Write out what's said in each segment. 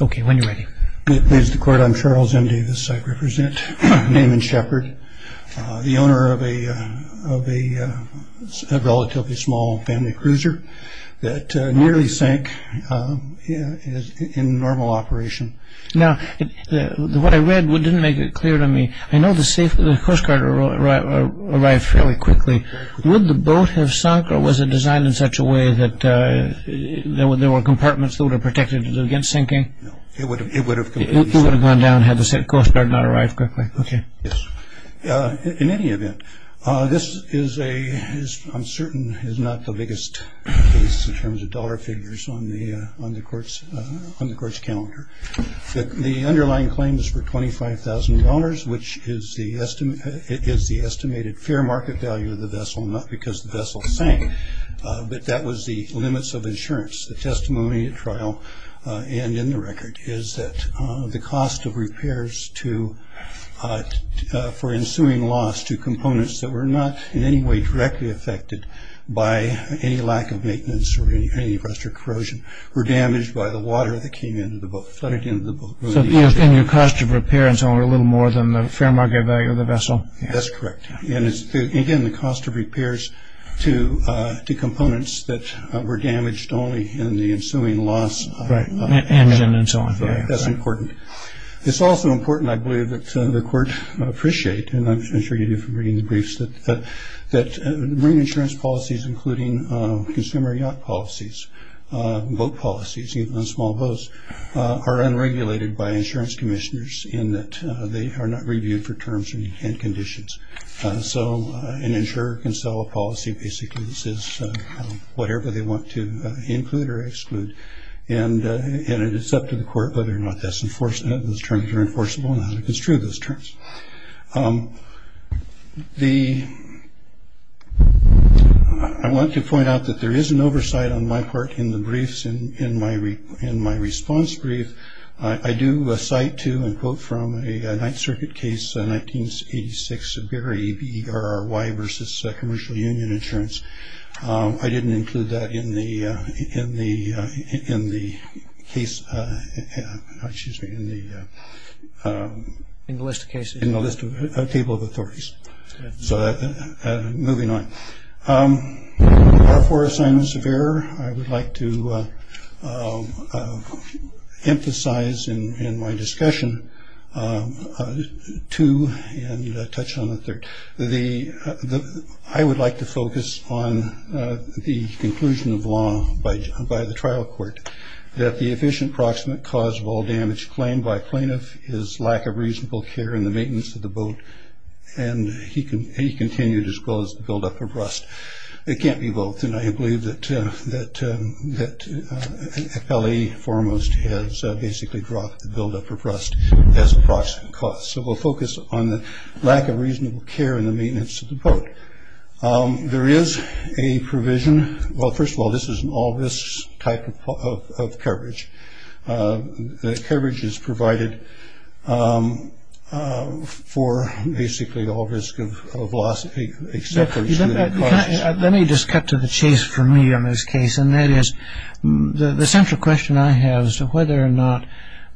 I am Charles N. Davis. I represent Naaman Shepard, the owner of a relatively small family cruiser that nearly sank in normal operation. Now, what I read didn't make it clear to me. I know the Coast Guard arrived fairly quickly. Would the boat have sunk or was it designed in such a way that there were compartments that would have protected it against sinking? It would have gone down had the Coast Guard not arrived quickly. In any event, this is a, I'm certain, is not the biggest case in terms of dollar figures on the court's calendar. The underlying claims for $25,000, which is the estimated fair market value of the vessel, not because the vessel sank, but that was the limits of insurance. The testimony at trial and in the record is that the cost of repairs for ensuing loss to components that were not in any way directly affected by any lack of maintenance or any rusted corrosion were damaged by the water that came into the boat, flooded into the boat. So the cost of repair is only a little more than the fair market value of the vessel? That's correct. And again, the cost of repairs to components that were damaged only in the ensuing loss. Engine and so on. That's important. It's also important, I believe, that the court appreciate, and I'm sure you do from reading the briefs, that marine insurance policies, including consumer yacht policies, boat policies, even on small boats, are unregulated by insurance commissioners in that they are not reviewed for terms and conditions. So an insurer can sell a policy basically that says whatever they want to include or exclude. And it's up to the court whether or not those terms are enforceable and how to construe those terms. I want to point out that there is an oversight on my part in the briefs and in my response brief. I do cite to and quote from a Ninth Circuit case, 1986, Severe EBRY versus commercial union insurance. I didn't include that in the in the in the case. In the list of cases in the list of a table of authorities. So moving on for assignments of error. I would like to emphasize in my discussion to touch on the third. I would like to focus on the conclusion of law by the trial court that the efficient proximate cause of all damage claimed by plaintiff is lack of reasonable care in the maintenance of the boat. And he continued as well as the buildup of rust. It can't be both. And I believe that L.A. foremost has basically dropped the buildup of rust as a proximate cause. So we'll focus on the lack of reasonable care in the maintenance of the boat. There is a provision. Well, first of all, this is an all risks type of coverage. Coverage is provided for basically all risk of loss. Let me just cut to the chase for me on this case. And that is the central question I have as to whether or not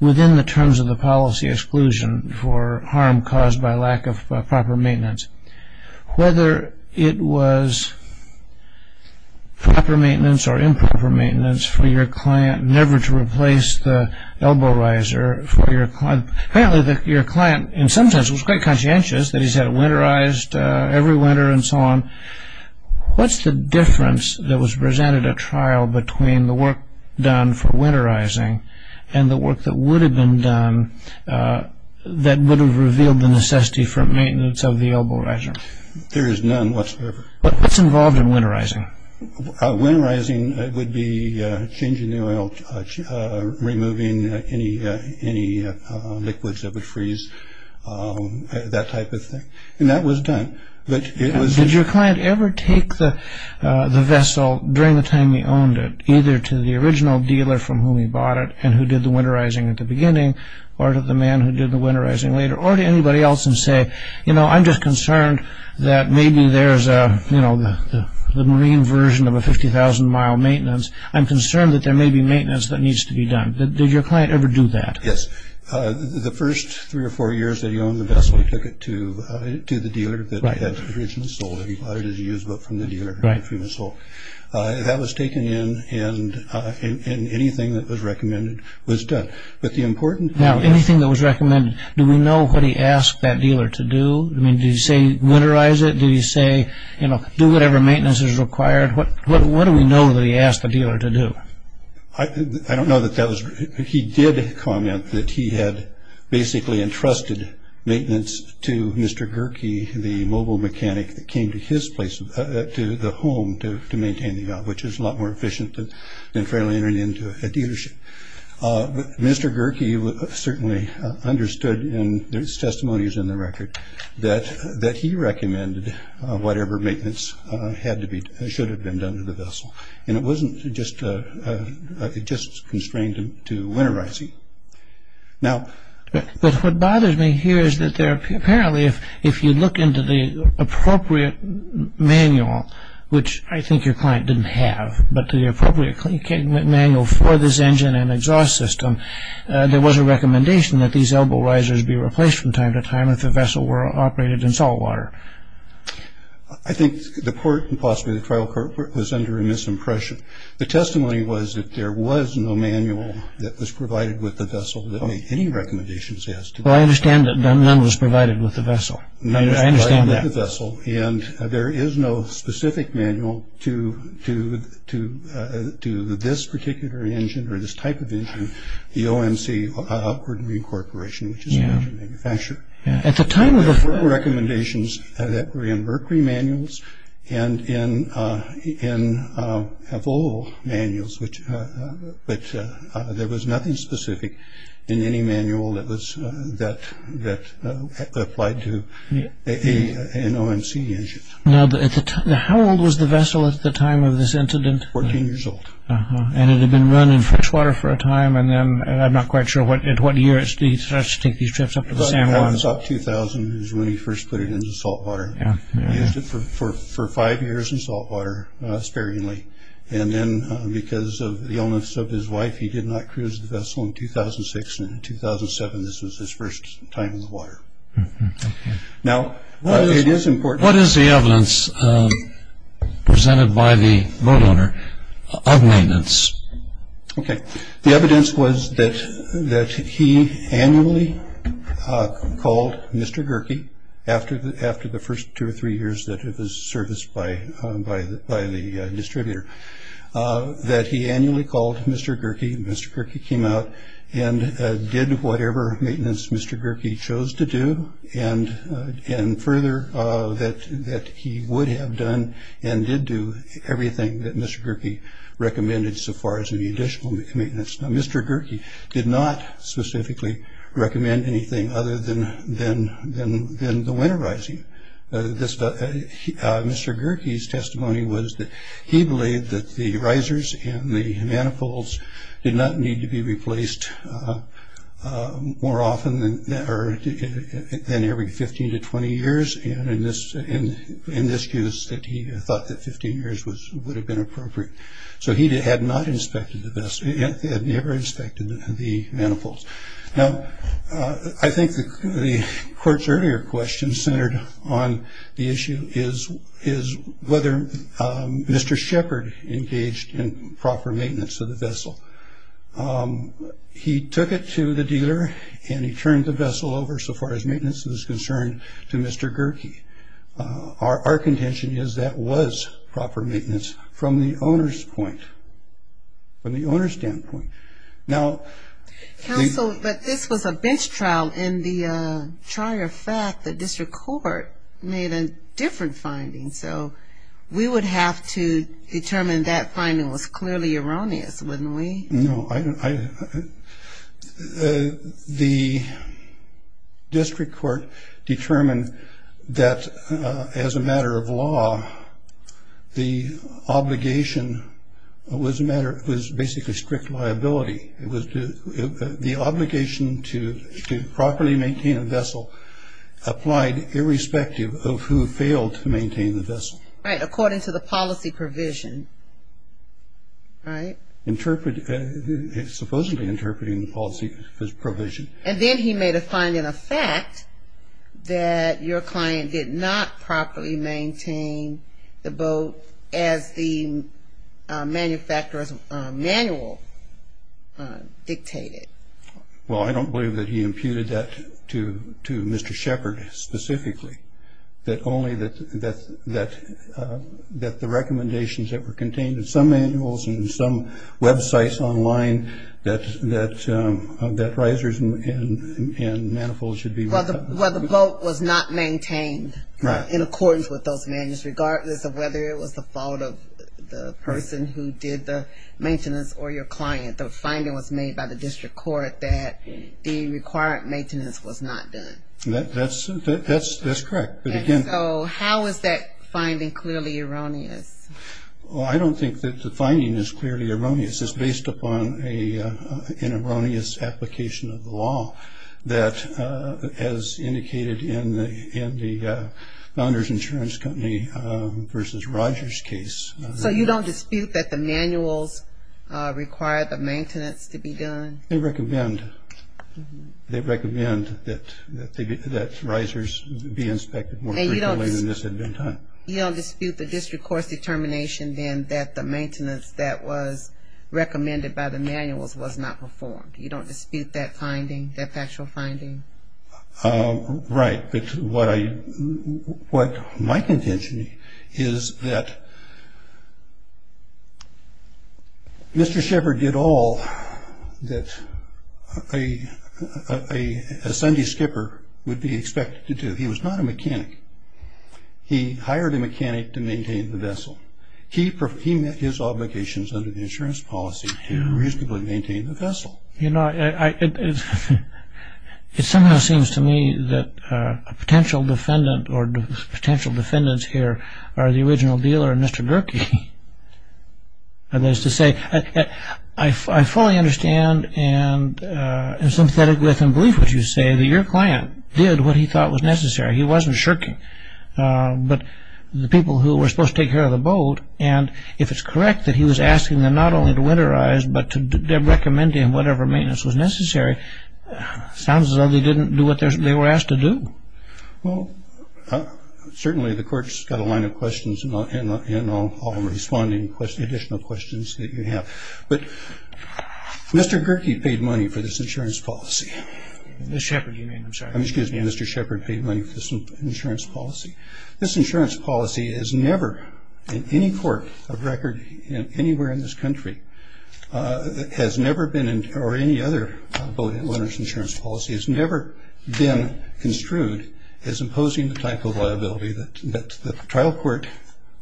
within the terms of the policy exclusion for harm caused by lack of proper maintenance, whether it was proper maintenance or improper maintenance for your client never to replace the elbow riser for your client. Apparently your client in some sense was conscientious that he's had winterized every winter and so on. What's the difference that was presented at trial between the work done for winterizing and the work that would have been done that would have revealed the necessity for maintenance of the elbow riser? There is none whatsoever. What's involved in winterizing? Winterizing would be changing the oil, removing any liquids that would freeze, that type of thing. And that was done. Did your client ever take the vessel during the time he owned it, either to the original dealer from whom he bought it and who did the winterizing at the beginning, or to the man who did the winterizing later, or to anybody else and say, you know, I'm just concerned that maybe there's a, you know, the marine version of a 50,000 mile maintenance. I'm concerned that there may be maintenance that needs to be done. Did your client ever do that? Yes. The first three or four years that he owned the vessel, he took it to the dealer that had originally sold it. He bought it as a used boat from the dealer. That was taken in and anything that was recommended was done. Now, anything that was recommended, do we know what he asked that dealer to do? I mean, did he say winterize it? Did he say, you know, do whatever maintenance is required? What do we know that he asked the dealer to do? I don't know that that was, he did comment that he had basically entrusted maintenance to Mr. Gerke, the mobile mechanic that came to his place, to the home to maintain the yacht, which is a lot more efficient than fairly entering into a dealership. Mr. Gerke certainly understood, and there's testimonies in the record, that he recommended whatever maintenance had to be, should have been done to the vessel. And it wasn't just, it just constrained him to winterizing. But what bothers me here is that apparently if you look into the appropriate manual, which I think your client didn't have, but the appropriate manual for this engine and exhaust system, there was a recommendation that these elbow risers be replaced from time to time if the vessel were operated in salt water. I think the court, and possibly the trial court, was under a misimpression. The testimony was that there was no manual that was provided with the vessel that made any recommendations as to that. Well, I understand that none was provided with the vessel. I understand that. None was provided with the vessel. And there is no specific manual to this particular engine, or this type of engine, the OMC Upward Marine Corporation, which is an engine manufacturer. There were recommendations that were in Mercury manuals and in Avolo manuals, but there was nothing specific in any manual that applied to an OMC engine. Now, how old was the vessel at the time of this incident? Fourteen years old. And it had been run in freshwater for a time, and I'm not quite sure at what year he started to take these trips up to the San Juan. It was up to 2000 is when he first put it into salt water. He used it for five years in salt water sparingly. And then because of the illness of his wife, he did not cruise the vessel in 2006. And in 2007, this was his first time in the water. Now, it is important. What is the evidence presented by the boat owner of maintenance? Okay. The evidence was that he annually called Mr. Gerke after the first two or three years that it was serviced by the distributor, that he annually called Mr. Gerke. Mr. Gerke came out and did whatever maintenance Mr. Gerke chose to do, and further, that he would have done and did do everything that Mr. Gerke recommended so far as any additional maintenance. Now, Mr. Gerke did not specifically recommend anything other than the winterizing. Mr. Gerke's testimony was that he believed that the risers and the manifolds did not need to be replaced more often than every 15 to 20 years, and in this case, that he thought that 15 years would have been appropriate. So he had never inspected the manifolds. Now, I think the court's earlier question centered on the issue is whether Mr. Shepard engaged in proper maintenance of the vessel. He took it to the dealer, and he turned the vessel over, so far as maintenance was concerned, to Mr. Gerke. Our contention is that was proper maintenance from the owner's point, from the owner's standpoint. Now, the ---- Counsel, but this was a bench trial, and the charter fact that district court made a different finding, so we would have to determine that finding was clearly erroneous, wouldn't we? No. The district court determined that as a matter of law, the obligation was basically strict liability. The obligation to properly maintain a vessel applied irrespective of who failed to maintain the vessel. Right, according to the policy provision, right? Supposedly interpreting the policy provision. And then he made a finding of fact that your client did not properly maintain the boat as the manufacturer's manual dictated. Well, I don't believe that he imputed that to Mr. Shepard specifically, only that the recommendations that were contained in some manuals and some websites online, that risers and manifolds should be ---- Well, the boat was not maintained in accordance with those manuals, regardless of whether it was the fault of the person who did the maintenance or your client. The finding was made by the district court that the required maintenance was not done. That's correct. So how is that finding clearly erroneous? Well, I don't think that the finding is clearly erroneous. It's based upon an erroneous application of the law that, as indicated in the Founder's Insurance Company v. Rogers case. So you don't dispute that the manuals require the maintenance to be done? They recommend that risers be inspected more frequently than this had been done. You don't dispute the district court's determination then that the maintenance that was recommended by the manuals was not performed? You don't dispute that finding, that factual finding? Right. What my contention is that Mr. Shepard did all that a Sunday skipper would be expected to do. He was not a mechanic. He hired a mechanic to maintain the vessel. He met his obligations under the insurance policy to reasonably maintain the vessel. You know, it somehow seems to me that a potential defendant or potential defendants here are the original dealer in Mr. Gerke. That is to say, I fully understand and am sympathetic with and believe what you say, that your client did what he thought was necessary. He wasn't shirking. But the people who were supposed to take care of the boat, and if it's correct that he was asking them not only to winterize but to recommend him whatever maintenance was necessary, sounds as though they didn't do what they were asked to do. Well, certainly the court's got a line of questions and I'll respond to any additional questions that you have. But Mr. Gerke paid money for this insurance policy. Mr. Shepard you mean, I'm sorry. Excuse me, Mr. Shepard paid money for this insurance policy. This insurance policy has never, in any court of record anywhere in this country, has never been or any other boat owner's insurance policy has never been construed as imposing the type of liability that the trial court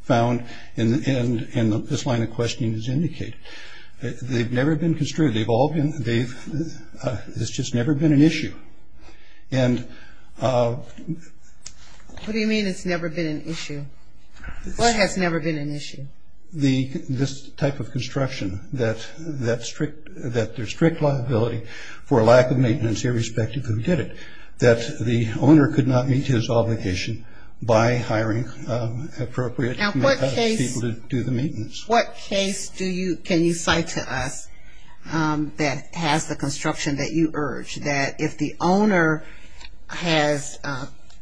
found and this line of questioning has indicated. They've never been construed. They've all been, it's just never been an issue. What do you mean it's never been an issue? What has never been an issue? This type of construction, that there's strict liability for lack of maintenance irrespective of who did it, that the owner could not meet his obligation by hiring appropriate people to do the maintenance. Now what case can you cite to us that has the construction that you urge, that if the owner has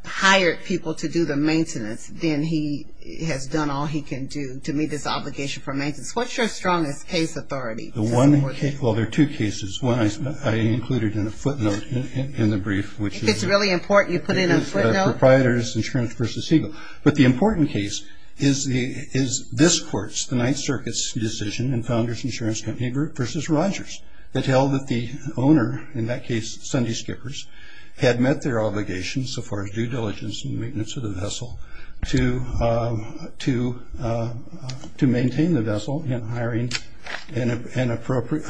hired people to do the maintenance, then he has done all he can do to meet his obligation for maintenance? What's your strongest case authority? Well, there are two cases. One I included in a footnote in the brief. If it's really important you put it in a footnote? It's the proprietor's insurance versus Siegel. But the important case is this court's, the Ninth Circuit's decision in Founders Insurance Company versus Rogers that held that the owner, in that case Sunday Skippers, had met their obligation so far as due diligence and maintenance of the vessel to maintain the vessel and hiring an appropriate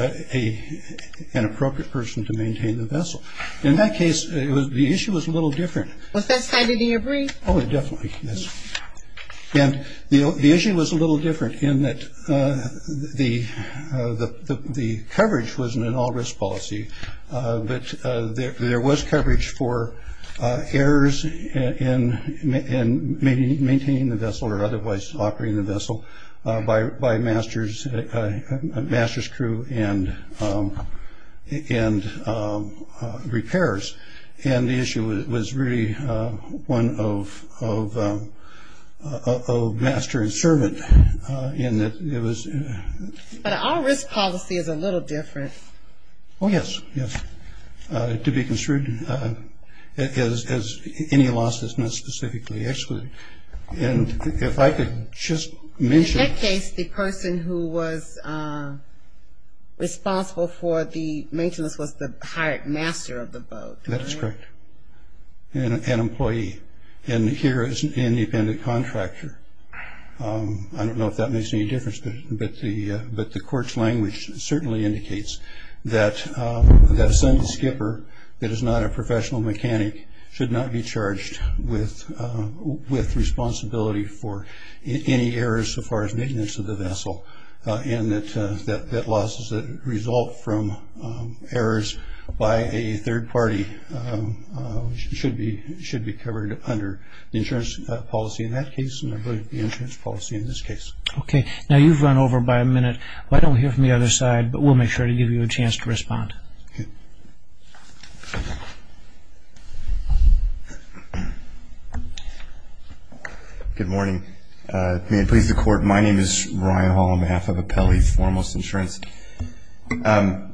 person to maintain the vessel. In that case, the issue was a little different. Was that cited in your brief? Oh, definitely, yes. And the issue was a little different in that the coverage wasn't an all-risk policy, but there was coverage for errors in maintaining the vessel or otherwise operating the vessel by master's crew and repairs. And the issue was really one of master and servant in that it was... But an all-risk policy is a little different. Oh, yes, yes. To be construed as any loss that's not specifically excluded. And if I could just mention... That is correct. An employee. And here is an independent contractor. I don't know if that makes any difference, but the court's language certainly indicates that Sunday Skipper, that is not a professional mechanic, should not be charged with responsibility for any errors so far as maintenance of the vessel and that losses that result from errors by a third party should be covered under the insurance policy in that case and I believe the insurance policy in this case. Okay. Now, you've run over by a minute. Why don't we hear from the other side, but we'll make sure to give you a chance to respond. Okay. Good morning. May it please the Court. My name is Ryan Hall on behalf of Apelli Foremost Insurance. I'd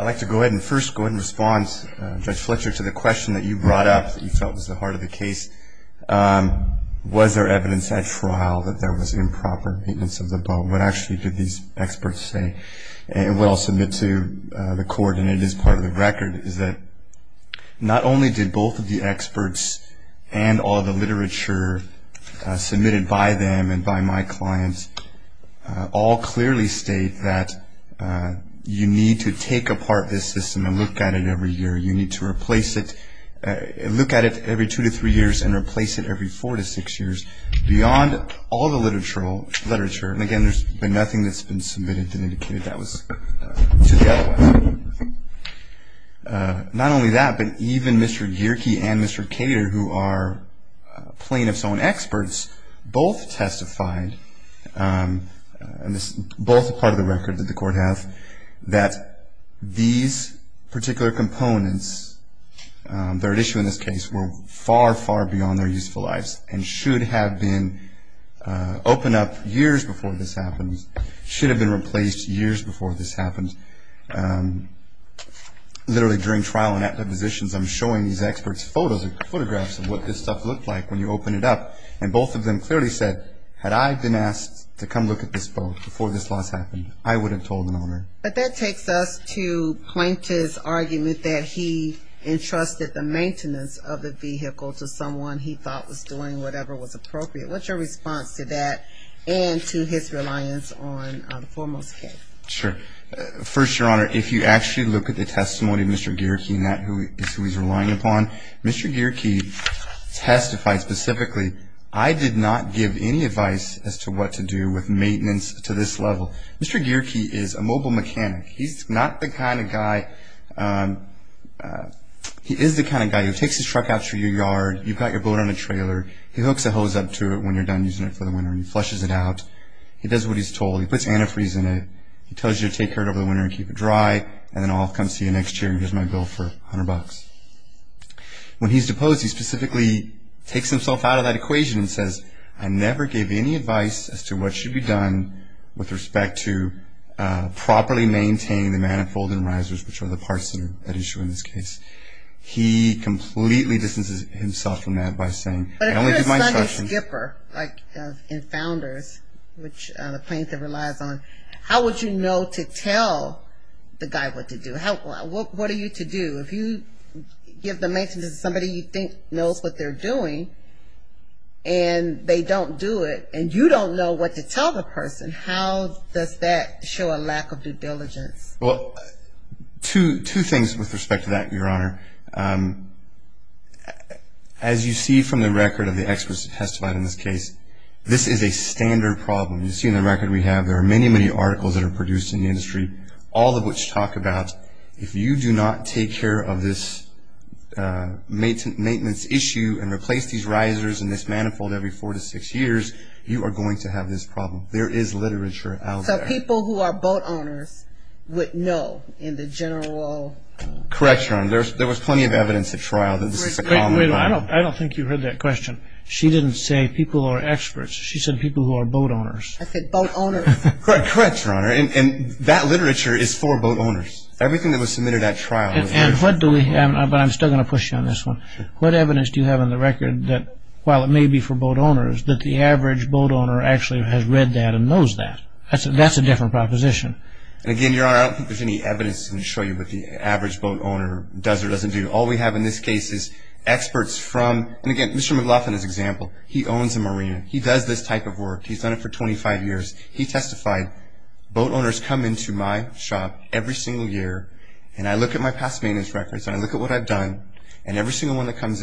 like to go ahead and first go ahead and respond, Judge Fletcher, to the question that you brought up that you felt was the heart of the case. Was there evidence at trial that there was improper maintenance of the boat? What actually did these experts say? And what I'll submit to the Court, and it is part of the record, is that not only did both of the experts and all the literature submitted by them and by my clients all clearly state that you need to take apart this system and look at it every year. You need to replace it, look at it every two to three years and replace it every four to six years beyond all the literature. And again, there's been nothing that's been submitted that indicated that was to the other side. Not only that, but even Mr. Gierke and Mr. Cater, who are plaintiffs' own experts, both testified, and this is both part of the record that the Court has, that these particular components that are at issue in this case were far, far beyond their useful lives and should have been opened up years before this happened, should have been replaced years before this happened. Literally during trial and at depositions, I'm showing these experts photographs of what this stuff looked like when you opened it up, and both of them clearly said, had I been asked to come look at this boat before this loss happened, I would have told an owner. But that takes us to Plaintiff's argument that he entrusted the maintenance of the vehicle to someone he thought was doing whatever was appropriate. What's your response to that and to his reliance on the foremost case? Sure. First, Your Honor, if you actually look at the testimony of Mr. Gierke and who he's relying upon, Mr. Gierke testified specifically, I did not give any advice as to what to do with maintenance to this level. Mr. Gierke is a mobile mechanic. He's not the kind of guy, he is the kind of guy who takes his truck out to your yard, you've got your boat on a trailer, he hooks a hose up to it when you're done using it for the winter and he flushes it out, he does what he's told, he puts antifreeze in it, he tells you to take care of it over the winter and keep it dry, and then I'll come see you next year and here's my bill for $100. When he's deposed, he specifically takes himself out of that equation and says, I never gave any advice as to what should be done with respect to properly maintaining the manifold and risers, which are the parts that are at issue in this case. He completely distances himself from that by saying, I only give my instructions. But if you're a Sunday skipper, like in Founders, which the plaintiff relies on, how would you know to tell the guy what to do? What are you to do? If you give the maintenance to somebody you think knows what they're doing and they don't do it and you don't know what to tell the person, how does that show a lack of due diligence? Well, two things with respect to that, Your Honor. As you see from the record of the experts who testified in this case, this is a standard problem. You see in the record we have there are many, many articles that are produced in the industry, all of which talk about if you do not take care of this maintenance issue and replace these risers and this manifold every four to six years, you are going to have this problem. There is literature out there. So people who are boat owners would know in the general law? Correct, Your Honor. There was plenty of evidence at trial that this is a common problem. I don't think you heard that question. She didn't say people who are experts. I said boat owners. Correct, Your Honor. And that literature is for boat owners. Everything that was submitted at trial. And what do we have? But I'm still going to push you on this one. What evidence do you have on the record that while it may be for boat owners, that the average boat owner actually has read that and knows that? That's a different proposition. Again, Your Honor, I don't think there's any evidence to show you what the average boat owner does or doesn't do. All we have in this case is experts from, and again, Mr. McLaughlin is an example. He owns a marina. He does this type of work. He's done it for 25 years. He testified, boat owners come into my shop every single year, and I look at my past maintenance records, and I look at what I've done, and every single one that comes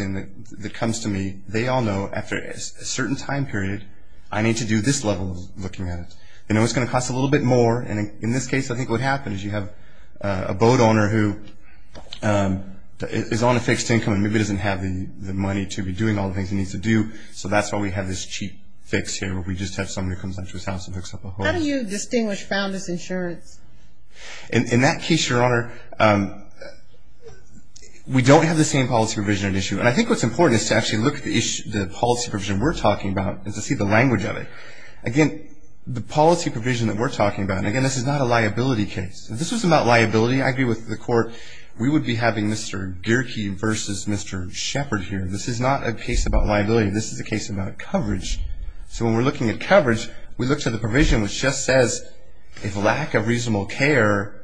to me, they all know after a certain time period I need to do this level of looking at it. They know it's going to cost a little bit more. And in this case, I think what happens is you have a boat owner who is on a fixed income and maybe doesn't have the money to be doing all the things he needs to do, so that's why we have this cheap fix here where we just have someone who comes into his house and picks up a boat. How do you distinguish founder's insurance? In that case, Your Honor, we don't have the same policy provision at issue, and I think what's important is to actually look at the policy provision we're talking about and to see the language of it. Again, the policy provision that we're talking about, and again, this is not a liability case. If this was about liability, I agree with the court, we would be having Mr. Gierke versus Mr. Shepard here. This is not a case about liability. This is a case about coverage. So when we're looking at coverage, we look to the provision which just says, if lack of reasonable care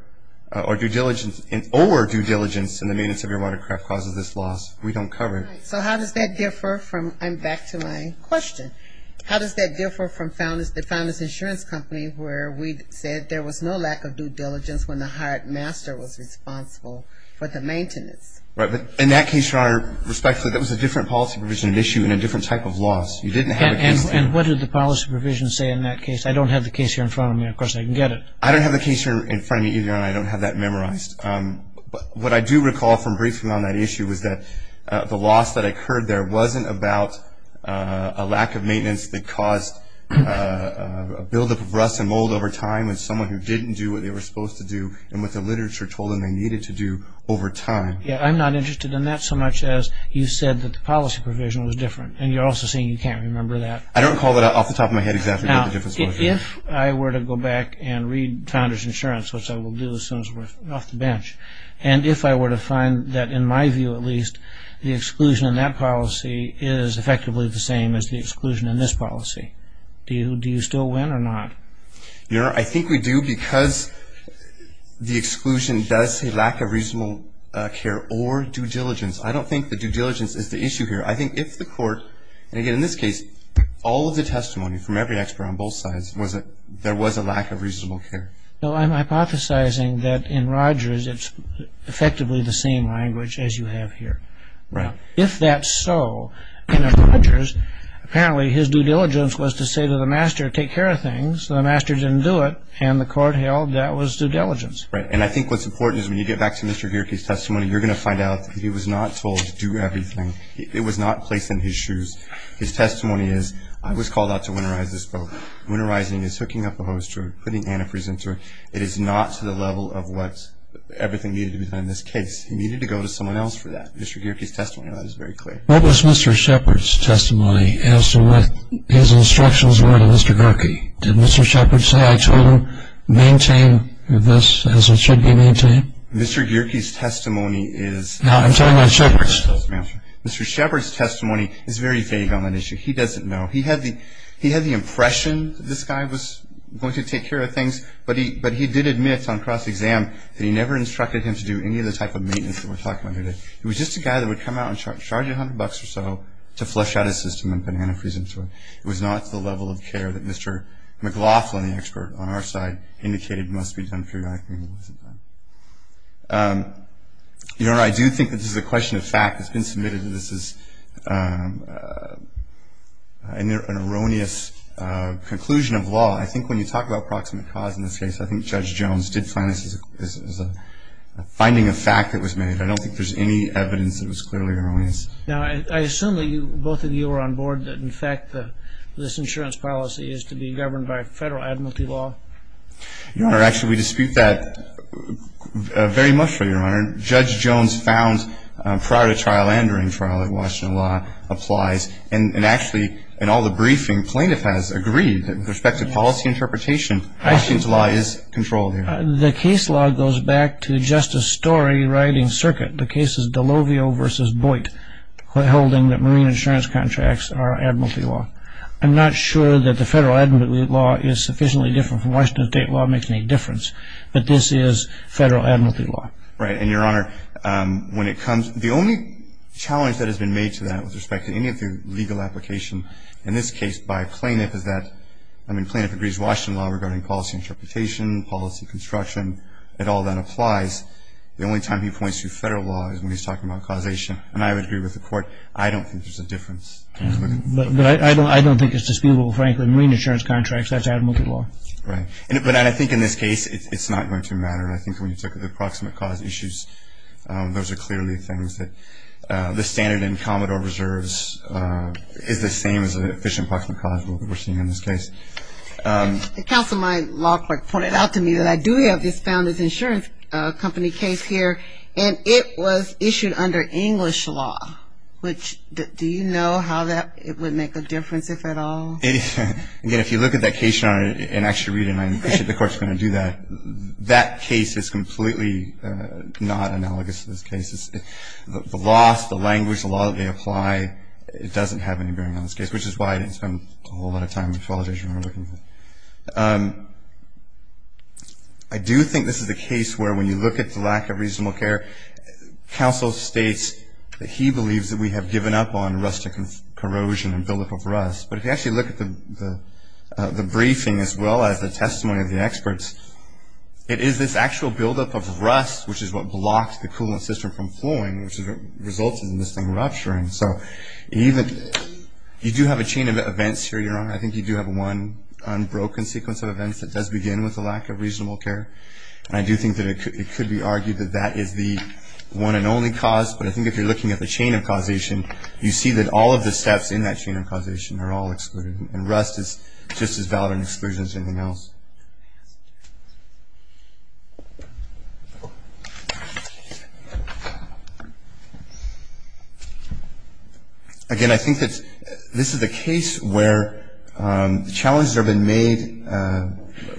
or due diligence in the maintenance of your watercraft causes this loss, we don't cover it. So how does that differ from, and back to my question, how does that differ from the founder's insurance company where we said there was no lack of due diligence when the hired master was responsible for the maintenance? Right. But in that case, Your Honor, respectfully, that was a different policy provision at issue and a different type of loss. You didn't have a case. And what did the policy provision say in that case? I don't have the case here in front of me. Of course, I can get it. I don't have the case here in front of me either, and I don't have that memorized. But what I do recall from briefing on that issue is that the loss that occurred there wasn't about a lack of maintenance that caused a buildup of rust and mold over time with someone who didn't do what they were supposed to do and what the literature told them they needed to do over time. Yeah, I'm not interested in that so much as you said that the policy provision was different, and you're also saying you can't remember that. I don't recall that off the top of my head exactly what the difference was. Now, if I were to go back and read founder's insurance, which I will do as soon as we're off the bench, and if I were to find that, in my view at least, the exclusion in that policy is effectively the same as the exclusion in this policy, do you still win or not? Your Honor, I think we do because the exclusion does say lack of reasonable care or due diligence. I don't think the due diligence is the issue here. I think if the court, and again in this case, all of the testimony from every expert on both sides, was that there was a lack of reasonable care. No, I'm hypothesizing that in Rogers it's effectively the same language as you have here. Right. If that's so, in Rogers, apparently his due diligence was to say to the master, take care of things. The master didn't do it, and the court held that was due diligence. Right, and I think what's important is when you get back to Mr. Gierke's testimony, you're going to find out that he was not told to do everything. It was not placed in his shoes. His testimony is, I was called out to winterize this boat. Winterizing is hooking up a hoist rope, putting antifreeze into it. It is not to the level of what everything needed to be done in this case. He needed to go to someone else for that. And I think Mr. Gierke's testimony on that is very clear. What was Mr. Shepard's testimony as to what his instructions were to Mr. Gierke? Did Mr. Shepard say, I told him, maintain this as it should be maintained? Mr. Gierke's testimony is No, I'm talking about Shepard's. Mr. Shepard's testimony is very vague on that issue. He doesn't know. He had the impression this guy was going to take care of things, but he did admit on cross-exam that he never instructed him to do any of the type of maintenance that we're talking about here today. He was just a guy that would come out and charge you $100 or so to flush out his system and put antifreeze into it. It was not to the level of care that Mr. McLaughlin, the expert on our side, indicated must be done for you. I think it wasn't done. I do think that this is a question of fact. It's been submitted that this is an erroneous conclusion of law. I think when you talk about proximate cause in this case, I think Judge Jones did find this as a finding of fact that was made. I don't think there's any evidence that it was clearly erroneous. Now, I assume that both of you were on board that, in fact, this insurance policy is to be governed by federal admiralty law. Your Honor, actually we dispute that very much, Your Honor. Judge Jones found prior to trial and during trial that Washington law applies, and actually in all the briefing, plaintiff has agreed that with respect to policy interpretation, Washington's law is controlled here. The case law goes back to Justice Story writing circuit. The case is D'Olovio v. Boit holding that marine insurance contracts are admiralty law. I'm not sure that the federal admiralty law is sufficiently different from Washington state law that makes any difference, but this is federal admiralty law. Right. And, Your Honor, when it comes to the only challenge that has been made to that with respect to any of the legal application in this case by plaintiff is that, regarding policy interpretation, policy construction, and all that applies, the only time he points to federal law is when he's talking about causation. And I would agree with the Court, I don't think there's a difference. But I don't think it's disputable, frankly, marine insurance contracts, that's admiralty law. Right. But I think in this case it's not going to matter. I think when you look at the approximate cause issues, those are clearly things that the standard in Commodore Reserves is the same as the efficient approximate cause rule that we're seeing in this case. Counsel, my law clerk pointed out to me that I do have this founder's insurance company case here, and it was issued under English law, which, do you know how that would make a difference, if at all? Again, if you look at that case, Your Honor, and actually read it, and I appreciate the Court's going to do that, that case is completely not analogous to this case. The laws, the language, the law that they apply, it doesn't have any bearing on this case, which is why I didn't spend a whole lot of time with the qualifications we're looking for. I do think this is a case where when you look at the lack of reasonable care, counsel states that he believes that we have given up on rustic corrosion and buildup of rust. But if you actually look at the briefing as well as the testimony of the experts, it is this actual buildup of rust which is what blocks the coolant system from flowing, which results in this thing rupturing. So you do have a chain of events here, Your Honor. I think you do have one unbroken sequence of events that does begin with a lack of reasonable care, and I do think that it could be argued that that is the one and only cause, but I think if you're looking at the chain of causation, you see that all of the steps in that chain of causation are all excluded, and rust is just as valid an exclusion as anything else. Again, I think that this is a case where the challenges have been made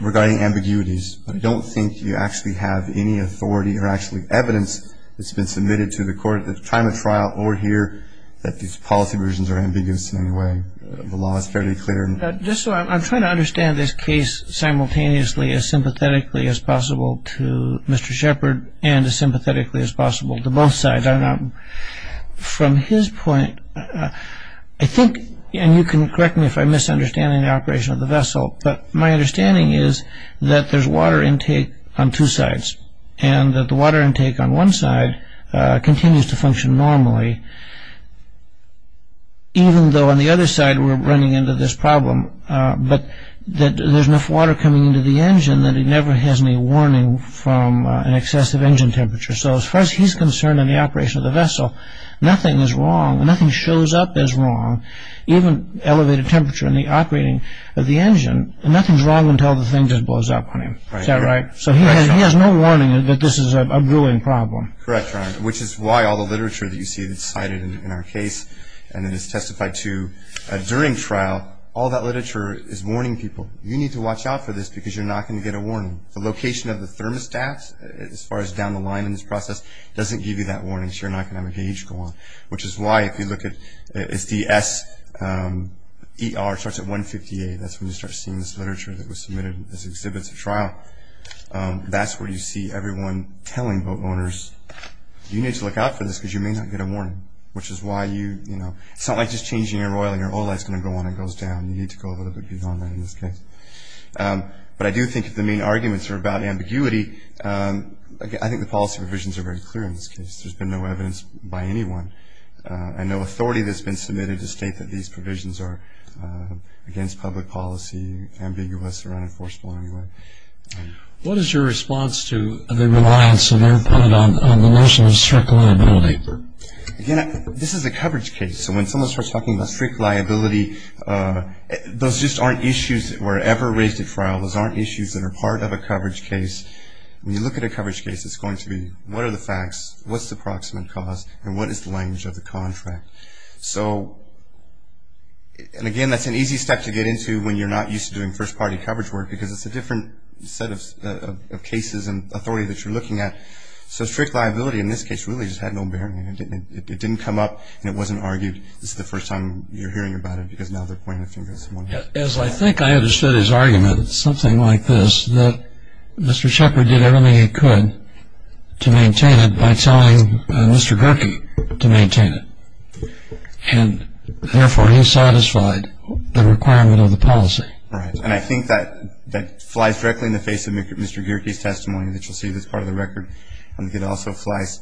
regarding ambiguities, but I don't think you actually have any authority or actually evidence that's been submitted to the court at the time of trial or here that these policy versions are ambiguous in any way. The law is fairly clear. Just so I'm trying to understand this case simultaneously as sympathetically as possible to Mr. Shepard and as sympathetically as possible to both sides. From his point, I think, and you can correct me if I'm misunderstanding the operation of the vessel, but my understanding is that there's water intake on two sides and that the water intake on one side continues to function normally, even though on the other side we're running into this problem, but that there's enough water coming into the engine that it never has any warning from an excessive engine temperature. So as far as he's concerned in the operation of the vessel, nothing is wrong. Nothing shows up as wrong. Even elevated temperature in the operating of the engine, nothing's wrong until the thing just blows up on him. Is that right? So he has no warning that this is a brewing problem. Correct, Your Honor, which is why all the literature that you see that's cited in our case and that is testified to during trial, all that literature is warning people. You need to watch out for this because you're not going to get a warning. The location of the thermostats, as far as down the line in this process, doesn't give you that warning so you're not going to have a gauge go on, which is why if you look at SDSER, it starts at 158. That's when you start seeing this literature that was submitted as exhibits at trial. That's where you see everyone telling boat owners, you need to look out for this because you may not get a warning, which is why you, you know, it's not like just changing your oil and your oil is going to go on and goes down. You need to go a little bit beyond that in this case. But I do think that the main arguments are about ambiguity. I think the policy provisions are very clear in this case. There's been no evidence by anyone and no authority that's been submitted to state that these provisions are against public policy, ambiguous or unenforceable in any way. What is your response to the reliance on the notion of strict liability? Again, this is a coverage case, so when someone starts talking about strict liability, those just aren't issues that were ever raised at trial. Those aren't issues that are part of a coverage case. When you look at a coverage case, it's going to be what are the facts, what's the proximate cause, and what is the language of the contract? So, and again, that's an easy step to get into when you're not used to doing first-party coverage work because it's a different set of cases and authority that you're looking at. So strict liability in this case really just had no bearing. It didn't come up and it wasn't argued. This is the first time you're hearing about it because now they're pointing the finger at someone else. As I think I understood his argument, it's something like this, that Mr. Shepard did everything he could to maintain it by telling Mr. Gierke to maintain it, and therefore he satisfied the requirement of the policy. Right. And I think that flies directly in the face of Mr. Gierke's testimony, which you'll see is part of the record. I think it also flies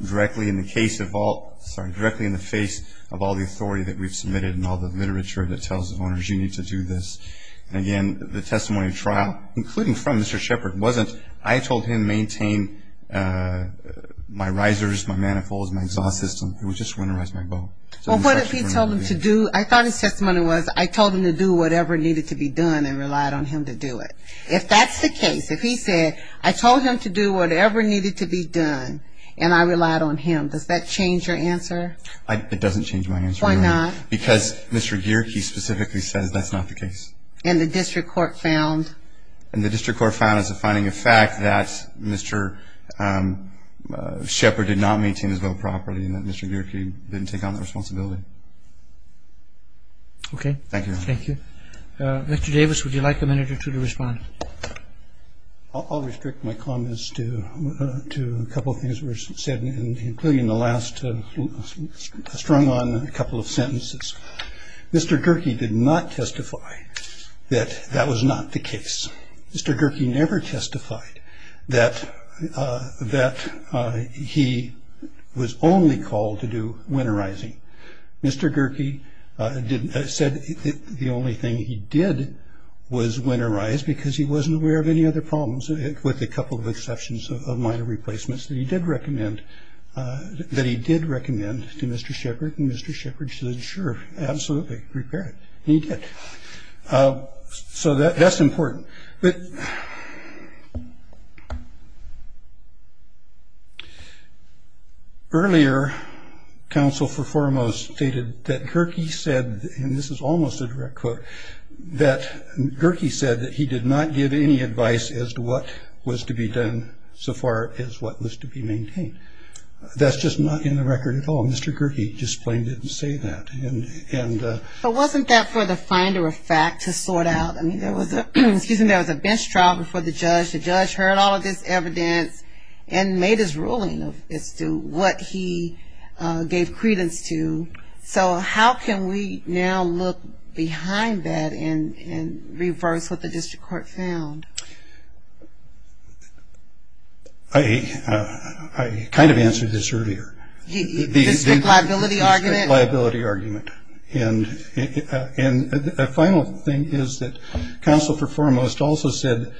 directly in the case of all, sorry, directly in the face of all the authority that we've submitted and all the literature that tells the owners you need to do this. Again, the testimony of trial, including from Mr. Shepard, wasn't I told him maintain my risers, my manifolds, my exhaust system. It was just winterize my boat. Well, what if he told him to do, I thought his testimony was, I told him to do whatever needed to be done and relied on him to do it. If that's the case, if he said, I told him to do whatever needed to be done and I relied on him, does that change your answer? It doesn't change my answer. Why not? Because Mr. Gierke specifically says that's not the case. And the district court found? And the district court found as a finding of fact that Mr. Shepard did not maintain his boat properly and that Mr. Gierke didn't take on that responsibility. Okay. Thank you. Thank you. Mr. Davis, would you like a minute or two to respond? I'll restrict my comments to a couple of things that were said, including the last strung on a couple of sentences. Mr. Gierke did not testify that that was not the case. Mr. Gierke never testified that he was only called to do winterizing. Mr. Gierke said the only thing he did was winterize because he wasn't aware of any other problems, with a couple of exceptions of minor replacements that he did recommend to Mr. Shepard. And Mr. Shepard said, sure, absolutely, repair it. And he did. So that's important. Earlier, counsel for foremost stated that Gierke said, and this is almost a direct quote, that Gierke said that he did not give any advice as to what was to be done so far as what was to be maintained. That's just not in the record at all. Mr. Gierke just plain didn't say that. But wasn't that for the finder of fact to sort out? I mean, there was a bench trial before the judge. The judge heard all of this evidence and made his ruling as to what he gave credence to. So how can we now look behind that and reverse what the district court found? I kind of answered this earlier. The district liability argument? The district liability argument. And a final thing is that counsel for foremost also said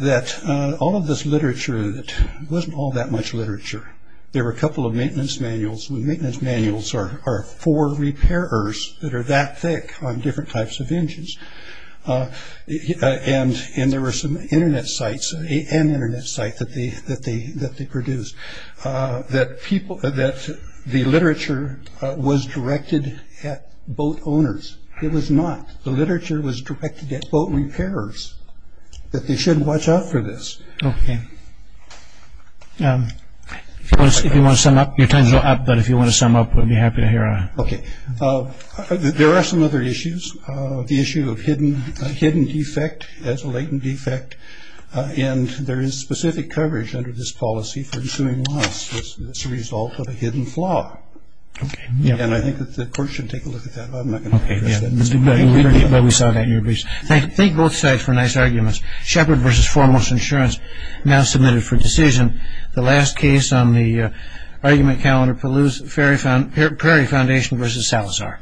that all of this literature, it wasn't all that much literature. There were a couple of maintenance manuals. Maintenance manuals are for repairers that are that thick on different types of engines. And there were some Internet sites, an Internet site that they produced, that the literature was directed at boat owners. It was not. The literature was directed at boat repairers, that they shouldn't watch out for this. Okay. If you want to sum up, your time is up. But if you want to sum up, we'd be happy to hear on it. Okay. There are some other issues. The issue of hidden defect as a latent defect. And there is specific coverage under this policy for assuming loss as a result of a hidden flaw. Okay. And I think that the court should take a look at that. I'm not going to address that. But we saw that in your briefs. Thank both sides for nice arguments. Shepherd v. Foremost Insurance now submitted for decision. The last case on the argument calendar, Prairie Foundation v. Salazar.